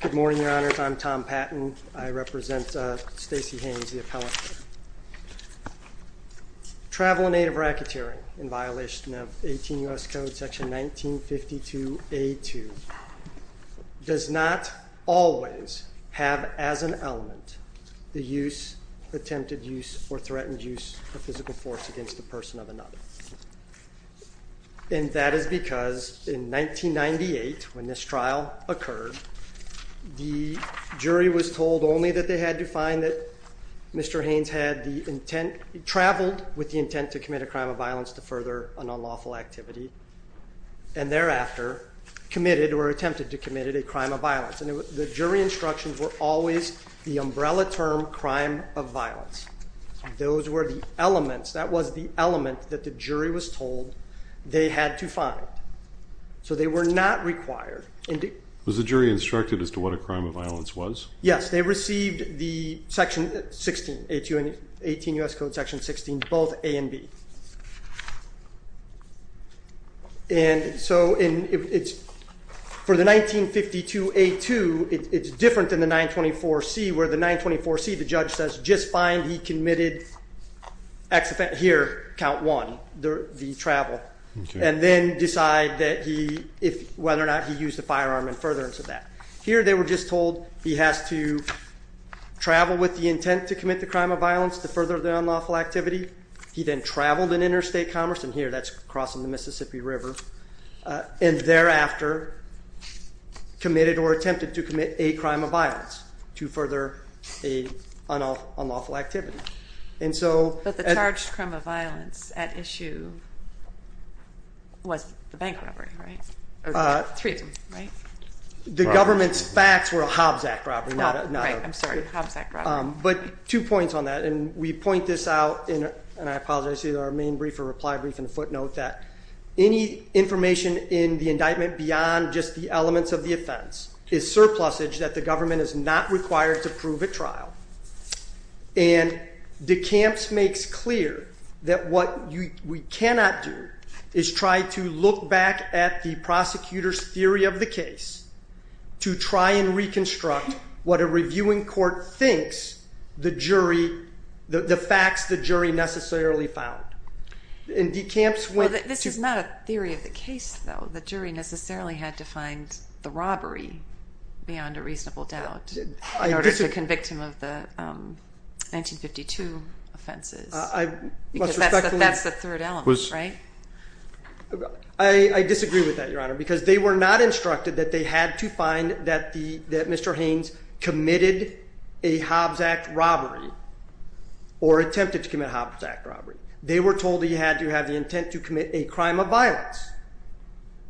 Good morning Your Honors, I'm Tom Patton. I represent Stacey Haynes, the appellate. Travel in aid of racketeering in violation of 18 U.S. Code section 1952A2 does not always have as an element the use, attempted use, or threatened use of physical force against the person of another and that is because in 1998 when this trial occurred the jury was told only that they had to find that Mr. Haynes had the intent, traveled with the intent to commit a crime of violence to further an unlawful activity and thereafter committed or attempted to commit a crime of violence and the jury instructions were always the umbrella term crime of violence. Those were the elements, that was the element that the jury was told they had to find. So they were not required. Was the jury instructed as to what a crime of violence was? Yes, they received the section 16, 18 U.S. Code section 16, both A and B. And so for the 1952A2 it's different than the 924C where the 924C the judge says just find he committed here count one, the travel, and then decide whether or not he used the firearm in furtherance of that. Here they were just told he has to travel with the intent to commit the crime of violence to further the unlawful activity. He then traveled in interstate commerce and here that's crossing the Mississippi River and thereafter committed or attempted to commit a crime of violence to further an unlawful activity. But the charged crime of violence at issue was the bank robbery, right? The government's facts were a Hobbs Act robbery, but two points on that and we point this out in our main brief and reply brief and footnote that any information in the indictment beyond just the elements of the offense is surplusage that the government is not required to prove at trial and DeCamps makes clear that what we cannot do is try to look back at the prosecutor's theory of the case to try and reconstruct what a reviewing court thinks the jury, the facts the jury necessarily found. And DeCamps went to- This is not a theory of the case though. The jury necessarily had to find the robbery beyond a reasonable doubt in order to convict him of the 1952 offenses. That's the third element, right? I disagree with that, Your Honor, because they were not instructed that they had to find that Mr. Haynes committed a Hobbs Act robbery or attempted to commit a Hobbs Act robbery. They were told he had to have the intent to commit a crime of violence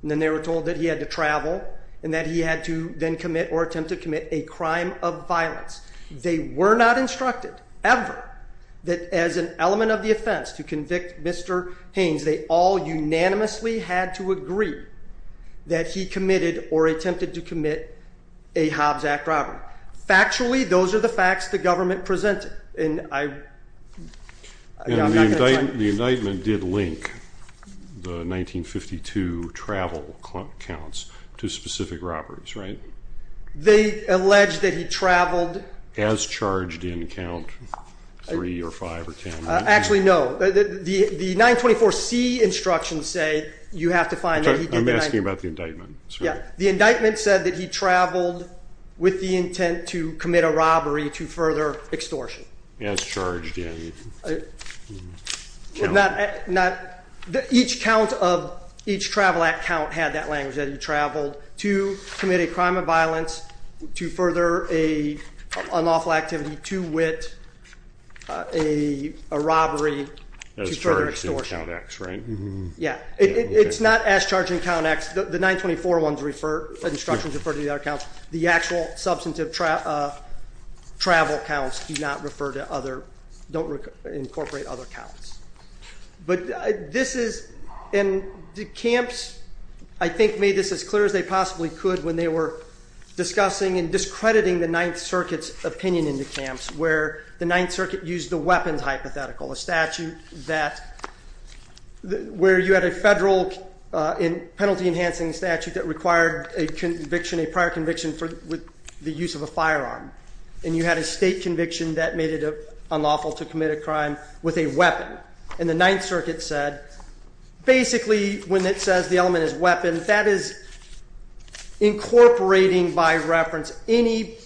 and then they were told that he had to travel and that he had to then commit or attempt to commit a crime of violence. They were not instructed, ever, that as an element of the offense to convict Mr. Haynes, they all unanimously had to agree that he committed or attempted to commit a Hobbs Act robbery. Factually, those are the facts the government presented and I'm not going to- The indictment did link the 1952 travel counts to specific robberies, right? They allege that he traveled- As charged in count 3 or 5 or 10. Actually no. The 924C instructions say you have to find that he did- I'm asking about the indictment. The indictment said that he traveled with the intent to commit a robbery to further extortion. As charged in- Each travel act count had that language, that he traveled to commit a crime of violence to further an unlawful activity, to wit a robbery to further extortion. As charged in count X, right? Yeah. It's not as charged in count X. The 924 ones refer, the instructions refer to the other counts. The actual substantive travel counts do not refer to other, don't incorporate other counts. But this is, and the camps I think made this as clear as they possibly could when they were discussing and discrediting the 9th Circuit's opinion in the camps where the 9th Circuit used the weapons hypothetical, a statute that, where you had a federal penalty enhancing statute that required a conviction, a prior conviction for the use of a firearm. And you had a state conviction that made it unlawful to commit a crime with a weapon. And the 9th Circuit said, basically when it says the element is weapon, that is incorporating by reference any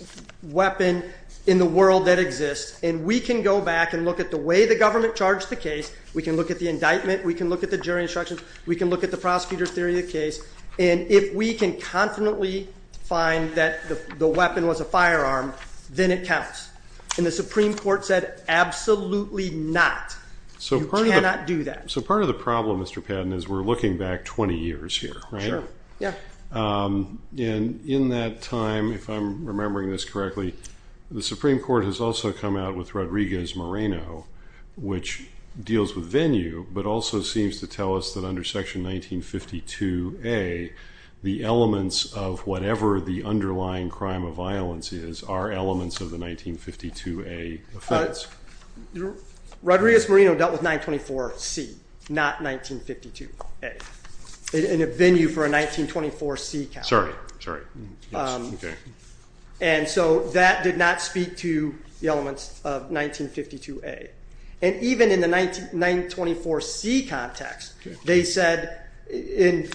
weapon in the world that exists and we can go back and look at the way the government charged the case, we can look at the indictment, we can look at the And if we can confidently find that the weapon was a firearm, then it counts. And the Supreme Court said, absolutely not. So you cannot do that. So part of the problem, Mr. Patton, is we're looking back 20 years here, right? Yeah. And in that time, if I'm remembering this correctly, the Supreme Court has also come out with Rodriguez Moreno, which deals with venue, but also seems to tell us that under section 1952A, the elements of whatever the underlying crime of violence is, are elements of the 1952A offense. Rodriguez Moreno dealt with 924C, not 1952A, in a venue for a 1924C count. Sorry. Sorry. Yes. Okay. And so that did not speak to the elements of 1952A. And even in the 924C context, they said in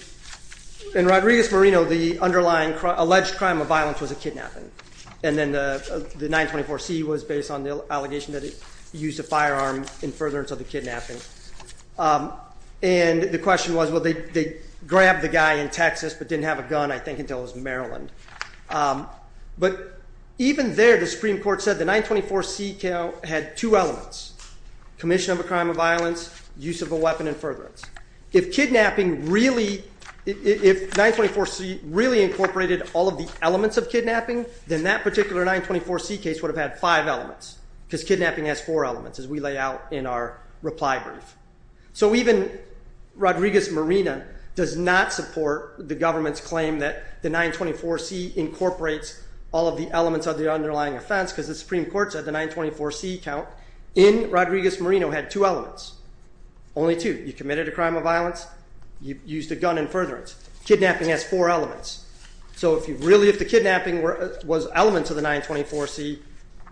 Rodriguez Moreno, the underlying alleged crime of violence was a kidnapping. And then the 924C was based on the allegation that it used a firearm in furtherance of the kidnapping. And the question was, well, they grabbed the guy in Texas, but didn't have a gun, I think, until it was Maryland. But even there, the Supreme Court said the 924C count had two elements, commission of a crime of violence, use of a weapon in furtherance. If kidnapping really, if 924C really incorporated all of the elements of kidnapping, then that particular 924C case would have had five elements, because kidnapping has four elements, as we lay out in our reply brief. So even Rodriguez Moreno does not support the government's claim that the 924C incorporates all of the elements of the underlying offense, because the Supreme Court said the 924C count in Rodriguez Moreno had two elements, only two. You committed a crime of violence, you used a gun in furtherance. Kidnapping has four elements. So if the kidnapping was elements of the 924C,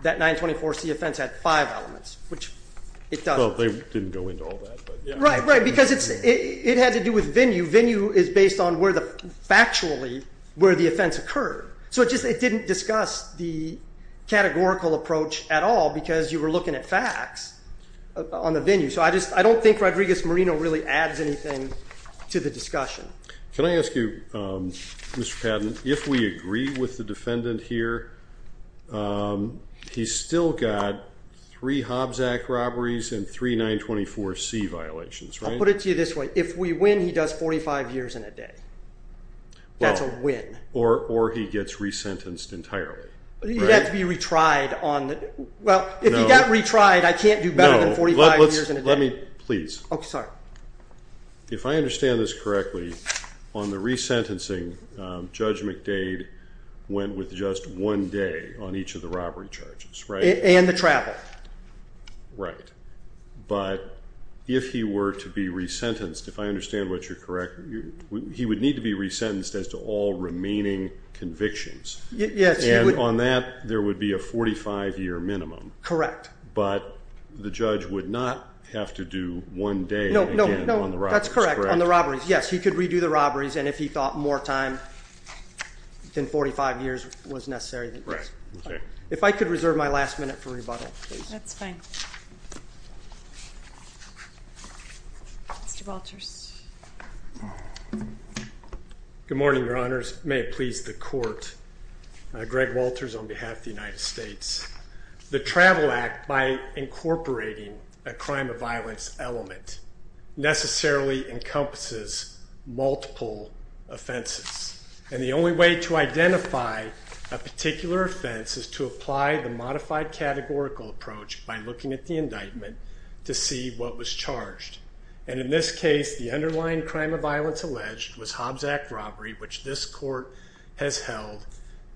that 924C offense had five elements, which it does. Well, they didn't go into all that, but yeah. Right, right. Because it had to do with venue. Venue is based on where the, factually, where the offense occurred. So it didn't discuss the categorical approach at all, because you were looking at facts on the venue. So I don't think Rodriguez Moreno really adds anything to the discussion. Can I ask you, Mr. Patton, if we agree with the defendant here, he's still got three Hobbs Act robberies and three 924C violations, right? I'll put it to you this way. If we win, he does 45 years and a day. That's a win. Or he gets resentenced entirely. He'd have to be retried on the, well, if he got retried, I can't do better than 45 years and a day. No, let me, please. Okay, sorry. If I understand this correctly, on the resentencing, Judge McDade went with just one day on each of the robbery charges, right? And the travel. Correct. Right. But if he were to be resentenced, if I understand what you're correct, he would need to be resentenced as to all remaining convictions. Yes. And on that, there would be a 45-year minimum. Correct. But the judge would not have to do one day again on the robberies, correct? No, that's correct. On the robberies, yes. He could redo the robberies. And if he thought more time than 45 years was necessary, then yes. Right, okay. If I could reserve my last minute for rebuttal, please. That's fine. Mr. Walters. Good morning, Your Honors. May it please the Court. Greg Walters on behalf of the United States. The Travel Act, by incorporating a crime of violence element, necessarily encompasses multiple offenses. And the only way to identify a particular offense is to apply the modified categorical approach by looking at the indictment to see what was charged. And in this case, the underlying crime of violence alleged was Hobbs Act robbery, which this Court has held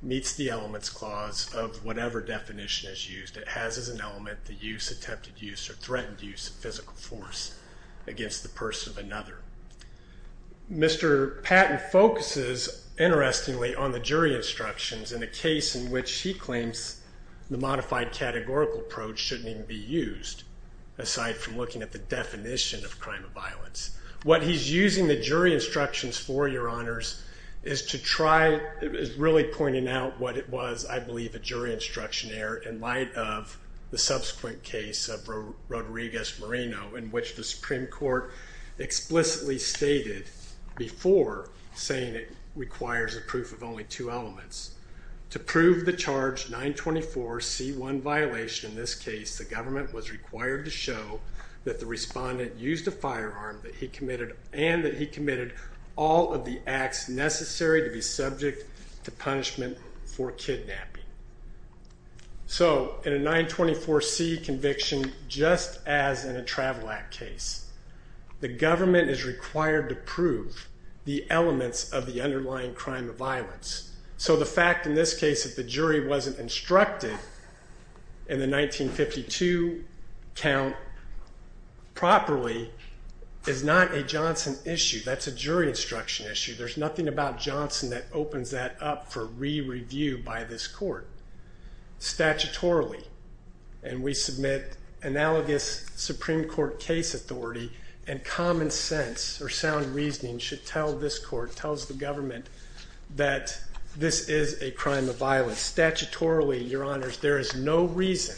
meets the elements clause of whatever definition is used. It has as an element the use, attempted use, or threatened use of physical force against the person of another. Mr. Patton focuses, interestingly, on the jury instructions in a case in which he claims the modified categorical approach shouldn't even be used, aside from looking at the definition of crime of violence. What he's using the jury instructions for, Your Honors, is to try, is really pointing out what it was, I believe, a jury instruction error in light of the subsequent case of Rodriguez Moreno, in which the Supreme Court explicitly stated before, saying it requires a proof of only two elements, to prove the charge 924C1 violation in this case, the government was required to show that the respondent used a firearm and that he committed all of the acts necessary to be subject to punishment for kidnapping. So, in a 924C conviction, just as in a travel act case, the government is required to prove the elements of the underlying crime of violence. So the fact, in this case, that the jury wasn't instructed in the 1952 count properly is not a Johnson issue. That's a jury instruction issue. There's nothing about Johnson that opens that up for re-review by this court. Statutorily, and we submit analogous Supreme Court case authority and common sense or sound reasoning should tell this court, tells the government, that this is a crime of violence. Statutorily, Your Honors, there is no reason,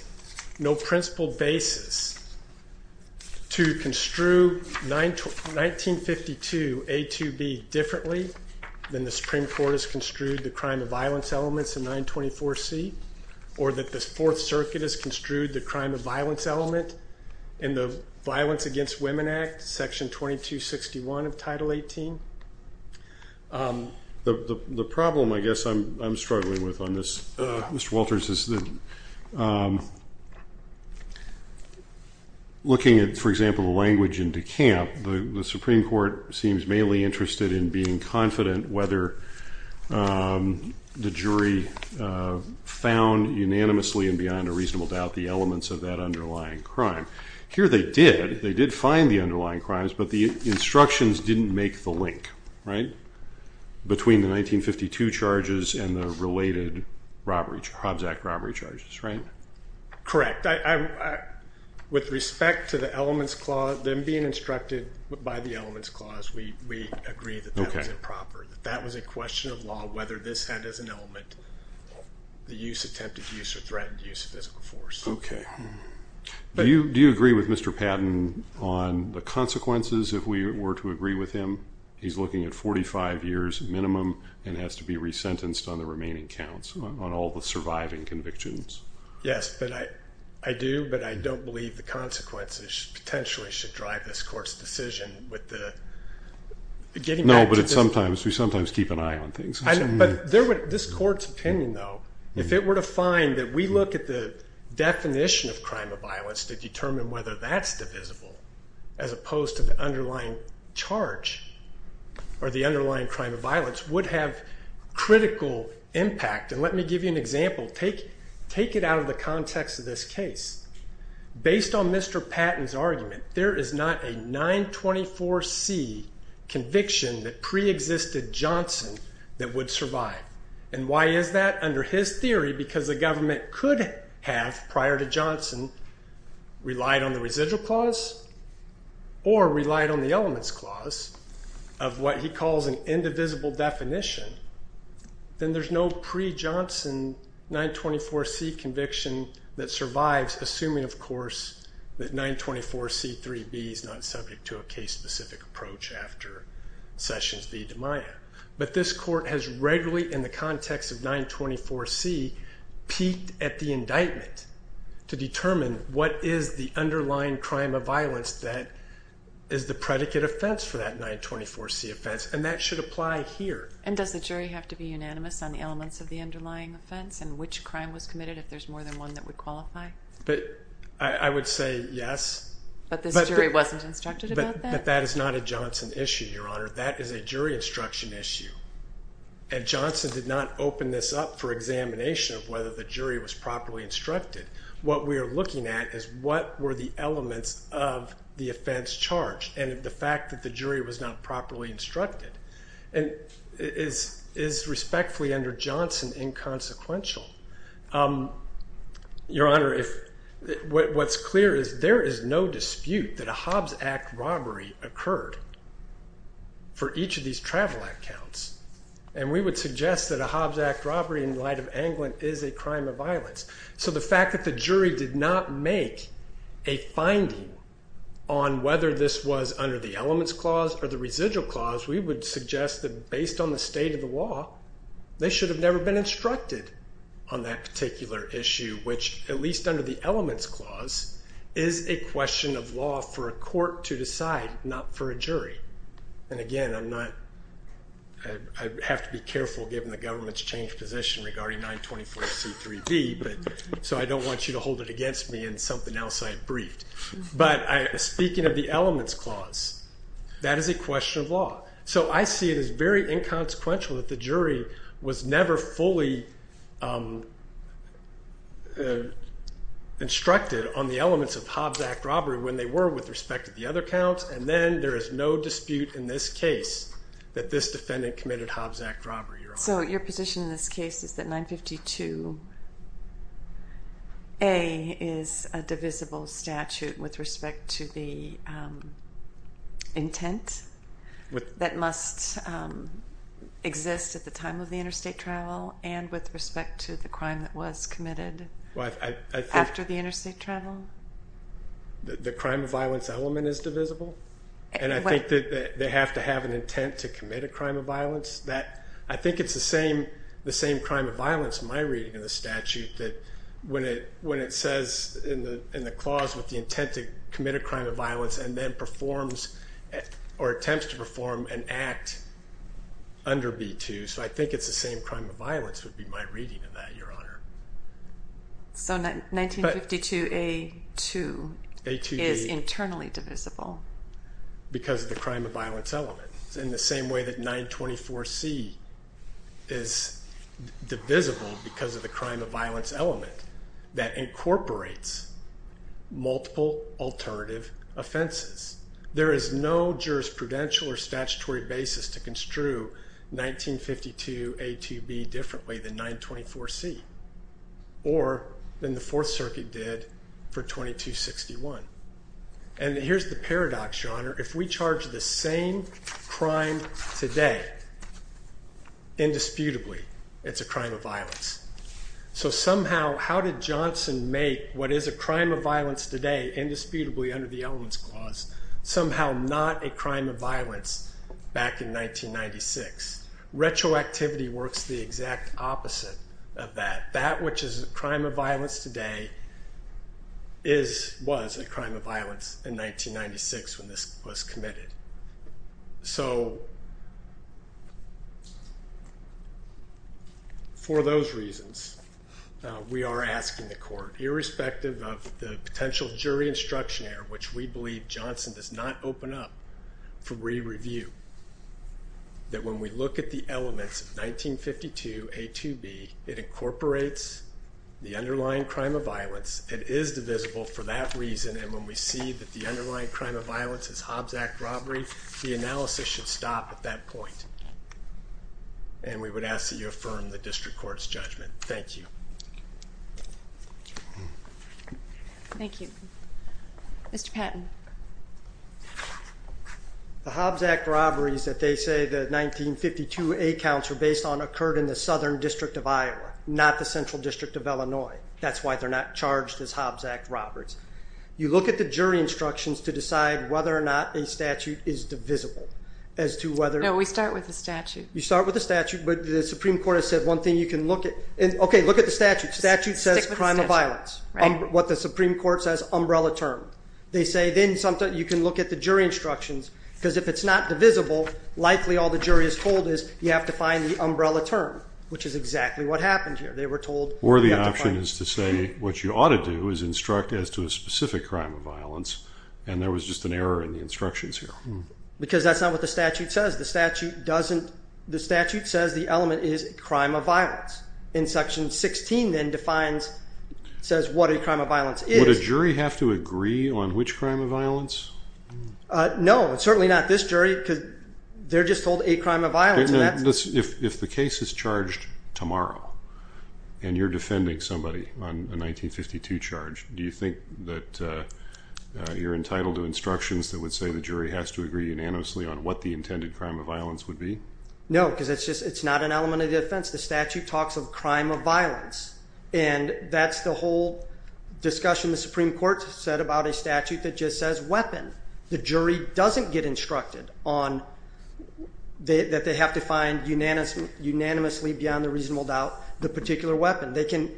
no principled basis, to construe 1952A2B differently than the Supreme Court has construed the crime of violence elements in 924C, or that the Fourth Circuit has construed the crime of violence element in the Violence Against Women Act, Section 2261 of Title 18. The problem, I guess, I'm struggling with on this, Mr. Walters, is that looking at, for example, the language in DeCamp, the Supreme Court seems mainly interested in being confident whether the jury found unanimously and beyond a reasonable doubt the elements of that underlying crime. Here they did. They did find the underlying crimes, but the instructions didn't make the link, right, between the 1952 charges and the related Robzack robbery charges, right? Correct. In fact, with respect to the elements clause, them being instructed by the elements clause, we agree that that was improper, that that was a question of law, whether this had as an element the use, attempted use, or threatened use of physical force. Okay. Do you agree with Mr. Patton on the consequences, if we were to agree with him? He's looking at 45 years minimum and has to be resentenced on the remaining counts, on all the surviving convictions. Yes, but I do, but I don't believe the consequences potentially should drive this court's decision with the getting back to the- No, but it's sometimes, we sometimes keep an eye on things. This court's opinion, though, if it were to find that we look at the definition of crime of violence to determine whether that's divisible, as opposed to the underlying charge or the underlying crime of violence, would have critical impact. Let me give you an example. Take it out of the context of this case. Based on Mr. Patton's argument, there is not a 924C conviction that preexisted Johnson that would survive. And why is that? Under his theory, because the government could have, prior to Johnson, relied on the residual clause or relied on the elements clause of what he calls an indivisible definition, then there's no pre-Johnson 924C conviction that survives, assuming, of course, that 924C 3B is not subject to a case-specific approach after Sessions v. DiMaia. But this court has regularly, in the context of 924C, peaked at the indictment to determine what is the underlying crime of violence that is the predicate offense for that 924C offense, and that should apply here. And does the jury have to be unanimous on the elements of the underlying offense and which crime was committed if there's more than one that would qualify? I would say yes. But this jury wasn't instructed about that? But that is not a Johnson issue, Your Honor. That is a jury instruction issue. And Johnson did not open this up for examination of whether the jury was properly instructed. What we are looking at is what were the elements of the offense charged and the fact that the jury was not properly instructed. And it is respectfully under Johnson inconsequential. Your Honor, what's clear is there is no dispute that a Hobbs Act robbery occurred for each of these travel accounts. And we would suggest that a Hobbs Act robbery in light of Anglin is a crime of violence. So the fact that the jury did not make a finding on whether this was under the elements clause or the residual clause, we would suggest that based on the state of the law, they should have never been instructed on that particular issue, which at least under the elements clause is a question of law for a court to decide, not for a jury. And again, I have to be careful given the government's changed position regarding 924C3B, so I don't want you to hold it against me in something else I briefed. But speaking of the elements clause, that is a question of law. So I see it as very inconsequential that the jury was never fully instructed on the elements of Hobbs Act robbery when they were with respect to the other accounts, and then there is no dispute in this case that this defendant committed Hobbs Act robbery, Your Honor. So your position in this case is that 952A is a divisible statute with respect to the intent that must exist at the time of the interstate travel and with respect to the crime that was committed after the interstate travel? The crime of violence element is divisible, and I think that they have to have an intent to commit a crime of violence. I think it's the same crime of violence in my reading of the statute that when it says in the clause with the intent to commit a crime of violence and then performs or attempts to perform an act under B-2, so I think it's the same crime of violence would be my reading of that, Your Honor. So 952A-2 is internally divisible? Because of the crime of violence element, in the same way that 924C is divisible because of the crime of violence element that incorporates multiple alternative offenses. There is no jurisprudential or statutory basis to construe 1952A-2B differently than 924C or than the Fourth Circuit did for 2261. And here's the paradox, Your Honor. If we charge the same crime today, indisputably, it's a crime of violence. So somehow, how did Johnson make what is a crime of violence today indisputably under the elements clause somehow not a crime of violence back in 1996? Retroactivity works the exact opposite of that. That which is a crime of violence today is, was a crime of violence in 1996 when this was committed. So for those reasons, we are asking the court, irrespective of the potential jury instruction error, which we believe Johnson does not open up for re-review, that when we look at the underlying crime of violence, it is divisible for that reason and when we see that the underlying crime of violence is Hobbs Act robbery, the analysis should stop at that point. And we would ask that you affirm the district court's judgment. Thank you. Thank you. Mr. Patton. The Hobbs Act robberies that they say the 1952A counts were based on occurred in the Central District of Illinois. That's why they're not charged as Hobbs Act robberies. You look at the jury instructions to decide whether or not a statute is divisible as to whether- No, we start with the statute. You start with the statute, but the Supreme Court has said one thing you can look at. Okay, look at the statute. Statute says crime of violence. What the Supreme Court says umbrella term. They say then you can look at the jury instructions because if it's not divisible, likely all the jury is told is you have to find the umbrella term, which is exactly what happened here. They were told- Or the option is to say what you ought to do is instruct as to a specific crime of violence and there was just an error in the instructions here. Because that's not what the statute says. The statute says the element is crime of violence. In section 16 then defines, says what a crime of violence is. Would a jury have to agree on which crime of violence? If the case is charged tomorrow and you're defending somebody on a 1952 charge, do you think that you're entitled to instructions that would say the jury has to agree unanimously on what the intended crime of violence would be? No, because it's just, it's not an element of the offense. The statute talks of crime of violence and that's the whole discussion the Supreme Court said about a statute that just says weapon. The jury doesn't get instructed on that they have to find unanimously beyond a reasonable doubt the particular weapon. They can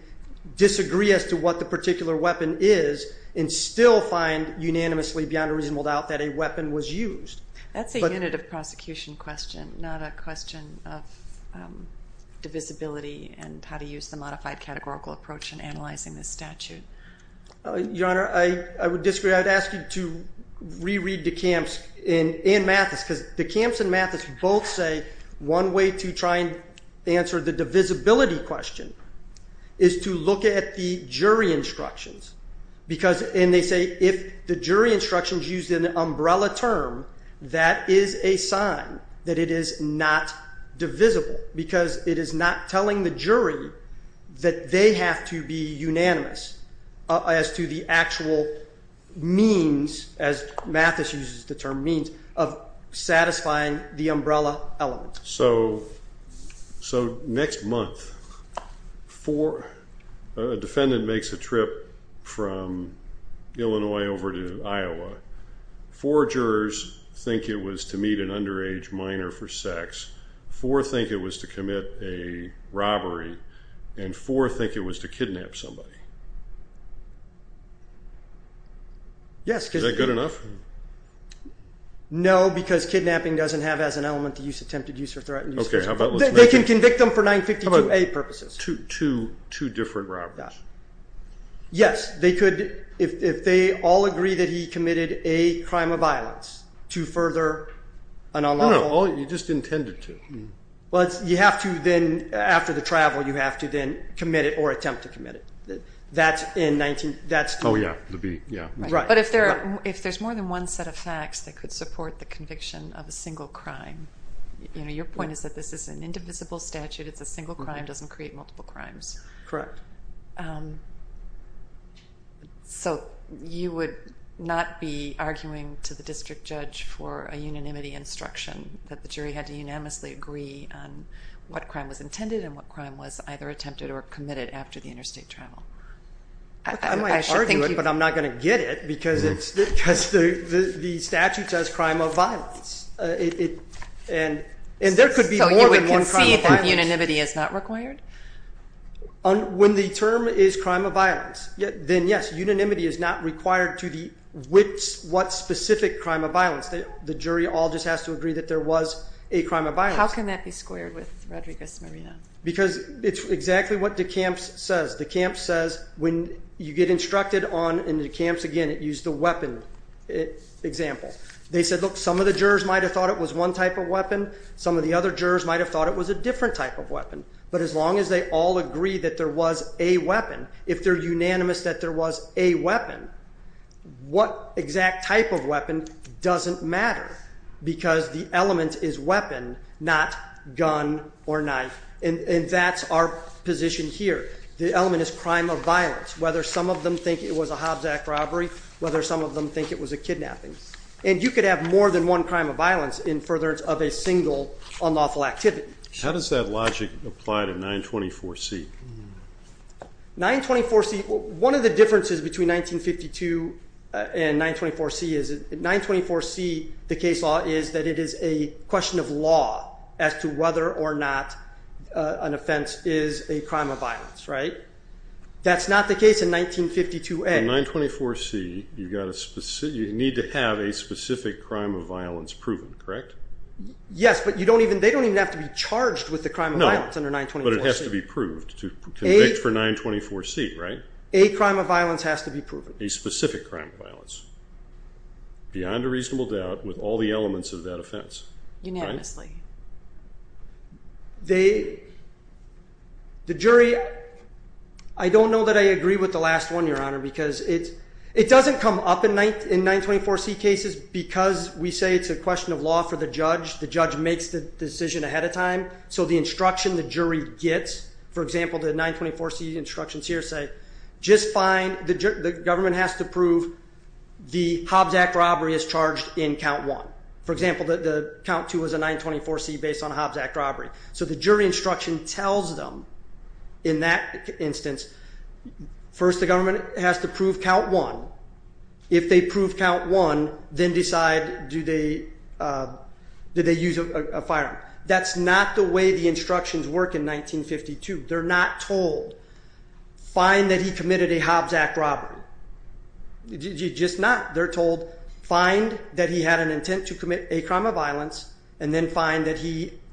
disagree as to what the particular weapon is and still find unanimously beyond a reasonable doubt that a weapon was used. That's a unit of prosecution question, not a question of divisibility and how to use the modified categorical approach in analyzing the statute. Your Honor, I would disagree. I'd ask you to reread DeCamps and Mathis because DeCamps and Mathis both say one way to try and answer the divisibility question is to look at the jury instructions because, and they say if the jury instructions use an umbrella term, that is a sign that it is not divisible because it is not telling the jury that they have to be unanimous as to the actual means, as Mathis uses the term means, of satisfying the umbrella element. So next month, a defendant makes a trip from Illinois over to Iowa. Four jurors think it was to meet an underage minor for sex. Four think it was to commit a robbery and four think it was to kidnap somebody. Is that good enough? No, because kidnapping doesn't have as an element to use attempted use or threatened use. They can convict them for 952A purposes. Two different robberies. Yes, they could, if they all agree that he committed a crime of violence to further an unlawful... No, no, you just intended to. Well, you have to then, after the travel, you have to then commit it or attempt to commit it. That's in 19... Oh, yeah. The B, yeah. Right. But if there's more than one set of facts that could support the conviction of a single crime, you know, your point is that this is an indivisible statute, it's a single crime, doesn't create multiple crimes. Correct. So, you would not be arguing to the district judge for a unanimity instruction that the jury had to unanimously agree on what crime was intended and what crime was either attempted or committed after the interstate travel? I might argue it, but I'm not going to get it because the statute says crime of violence. And there could be more than one crime of violence. So you would concede that unanimity is not required? When the term is crime of violence, then yes, unanimity is not required to the which, what specific crime of violence. The jury all just has to agree that there was a crime of violence. How can that be squared with Rodriguez-Marina? Because it's exactly what DeCamps says. DeCamps says when you get instructed on, and DeCamps, again, it used the weapon example. They said, look, some of the jurors might have thought it was one type of weapon. Some of the other jurors might have thought it was a different type of weapon. But as long as they all agree that there was a weapon, if they're unanimous that there was a weapon, what exact type of weapon doesn't matter. Because the element is weapon, not gun or knife. And that's our position here. The element is crime of violence, whether some of them think it was a Hobbs Act robbery, whether some of them think it was a kidnapping. And you could have more than one crime of violence in furtherance of a single unlawful activity. How does that logic apply to 924C? 924C, one of the differences between 1952 and 924C is that 924C, the case law, is that it is a question of law as to whether or not an offense is a crime of violence, right? That's not the case in 1952A. In 924C, you need to have a specific crime of violence proven, correct? Yes, but they don't even have to be charged with the crime of violence under 924C. No, but it has to be proved. To convict for 924C, right? A crime of violence has to be proven. A specific crime of violence. Beyond a reasonable doubt, with all the elements of that offense. Unanimously. The jury, I don't know that I agree with the last one, Your Honor, because it doesn't come up in 924C cases because we say it's a question of law for the judge. The judge makes the decision ahead of time. So the instruction the jury gets, for example, the 924C instructions here say, just fine, the government has to prove the Hobbs Act robbery is charged in count one. For example, the count two is a 924C based on a Hobbs Act robbery. So the jury instruction tells them, in that instance, first the government has to prove count one. If they prove count one, then decide do they use a firearm. That's not the way the instructions work in 1952. They're not told, find that he committed a Hobbs Act robbery. Just not. They're told, find that he had an intent to commit a crime of violence, and then find they're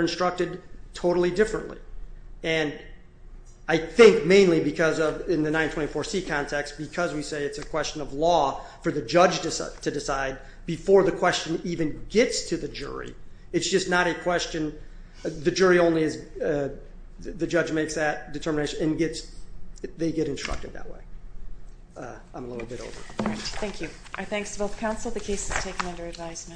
instructed totally differently. And I think mainly because of, in the 924C context, because we say it's a question of law for the judge to decide before the question even gets to the jury. It's just not a question, the jury only is, the judge makes that determination and gets, they get instructed that way. I'm a little bit over. Thank you. Our thanks to both counsel. The case is taken under advisement.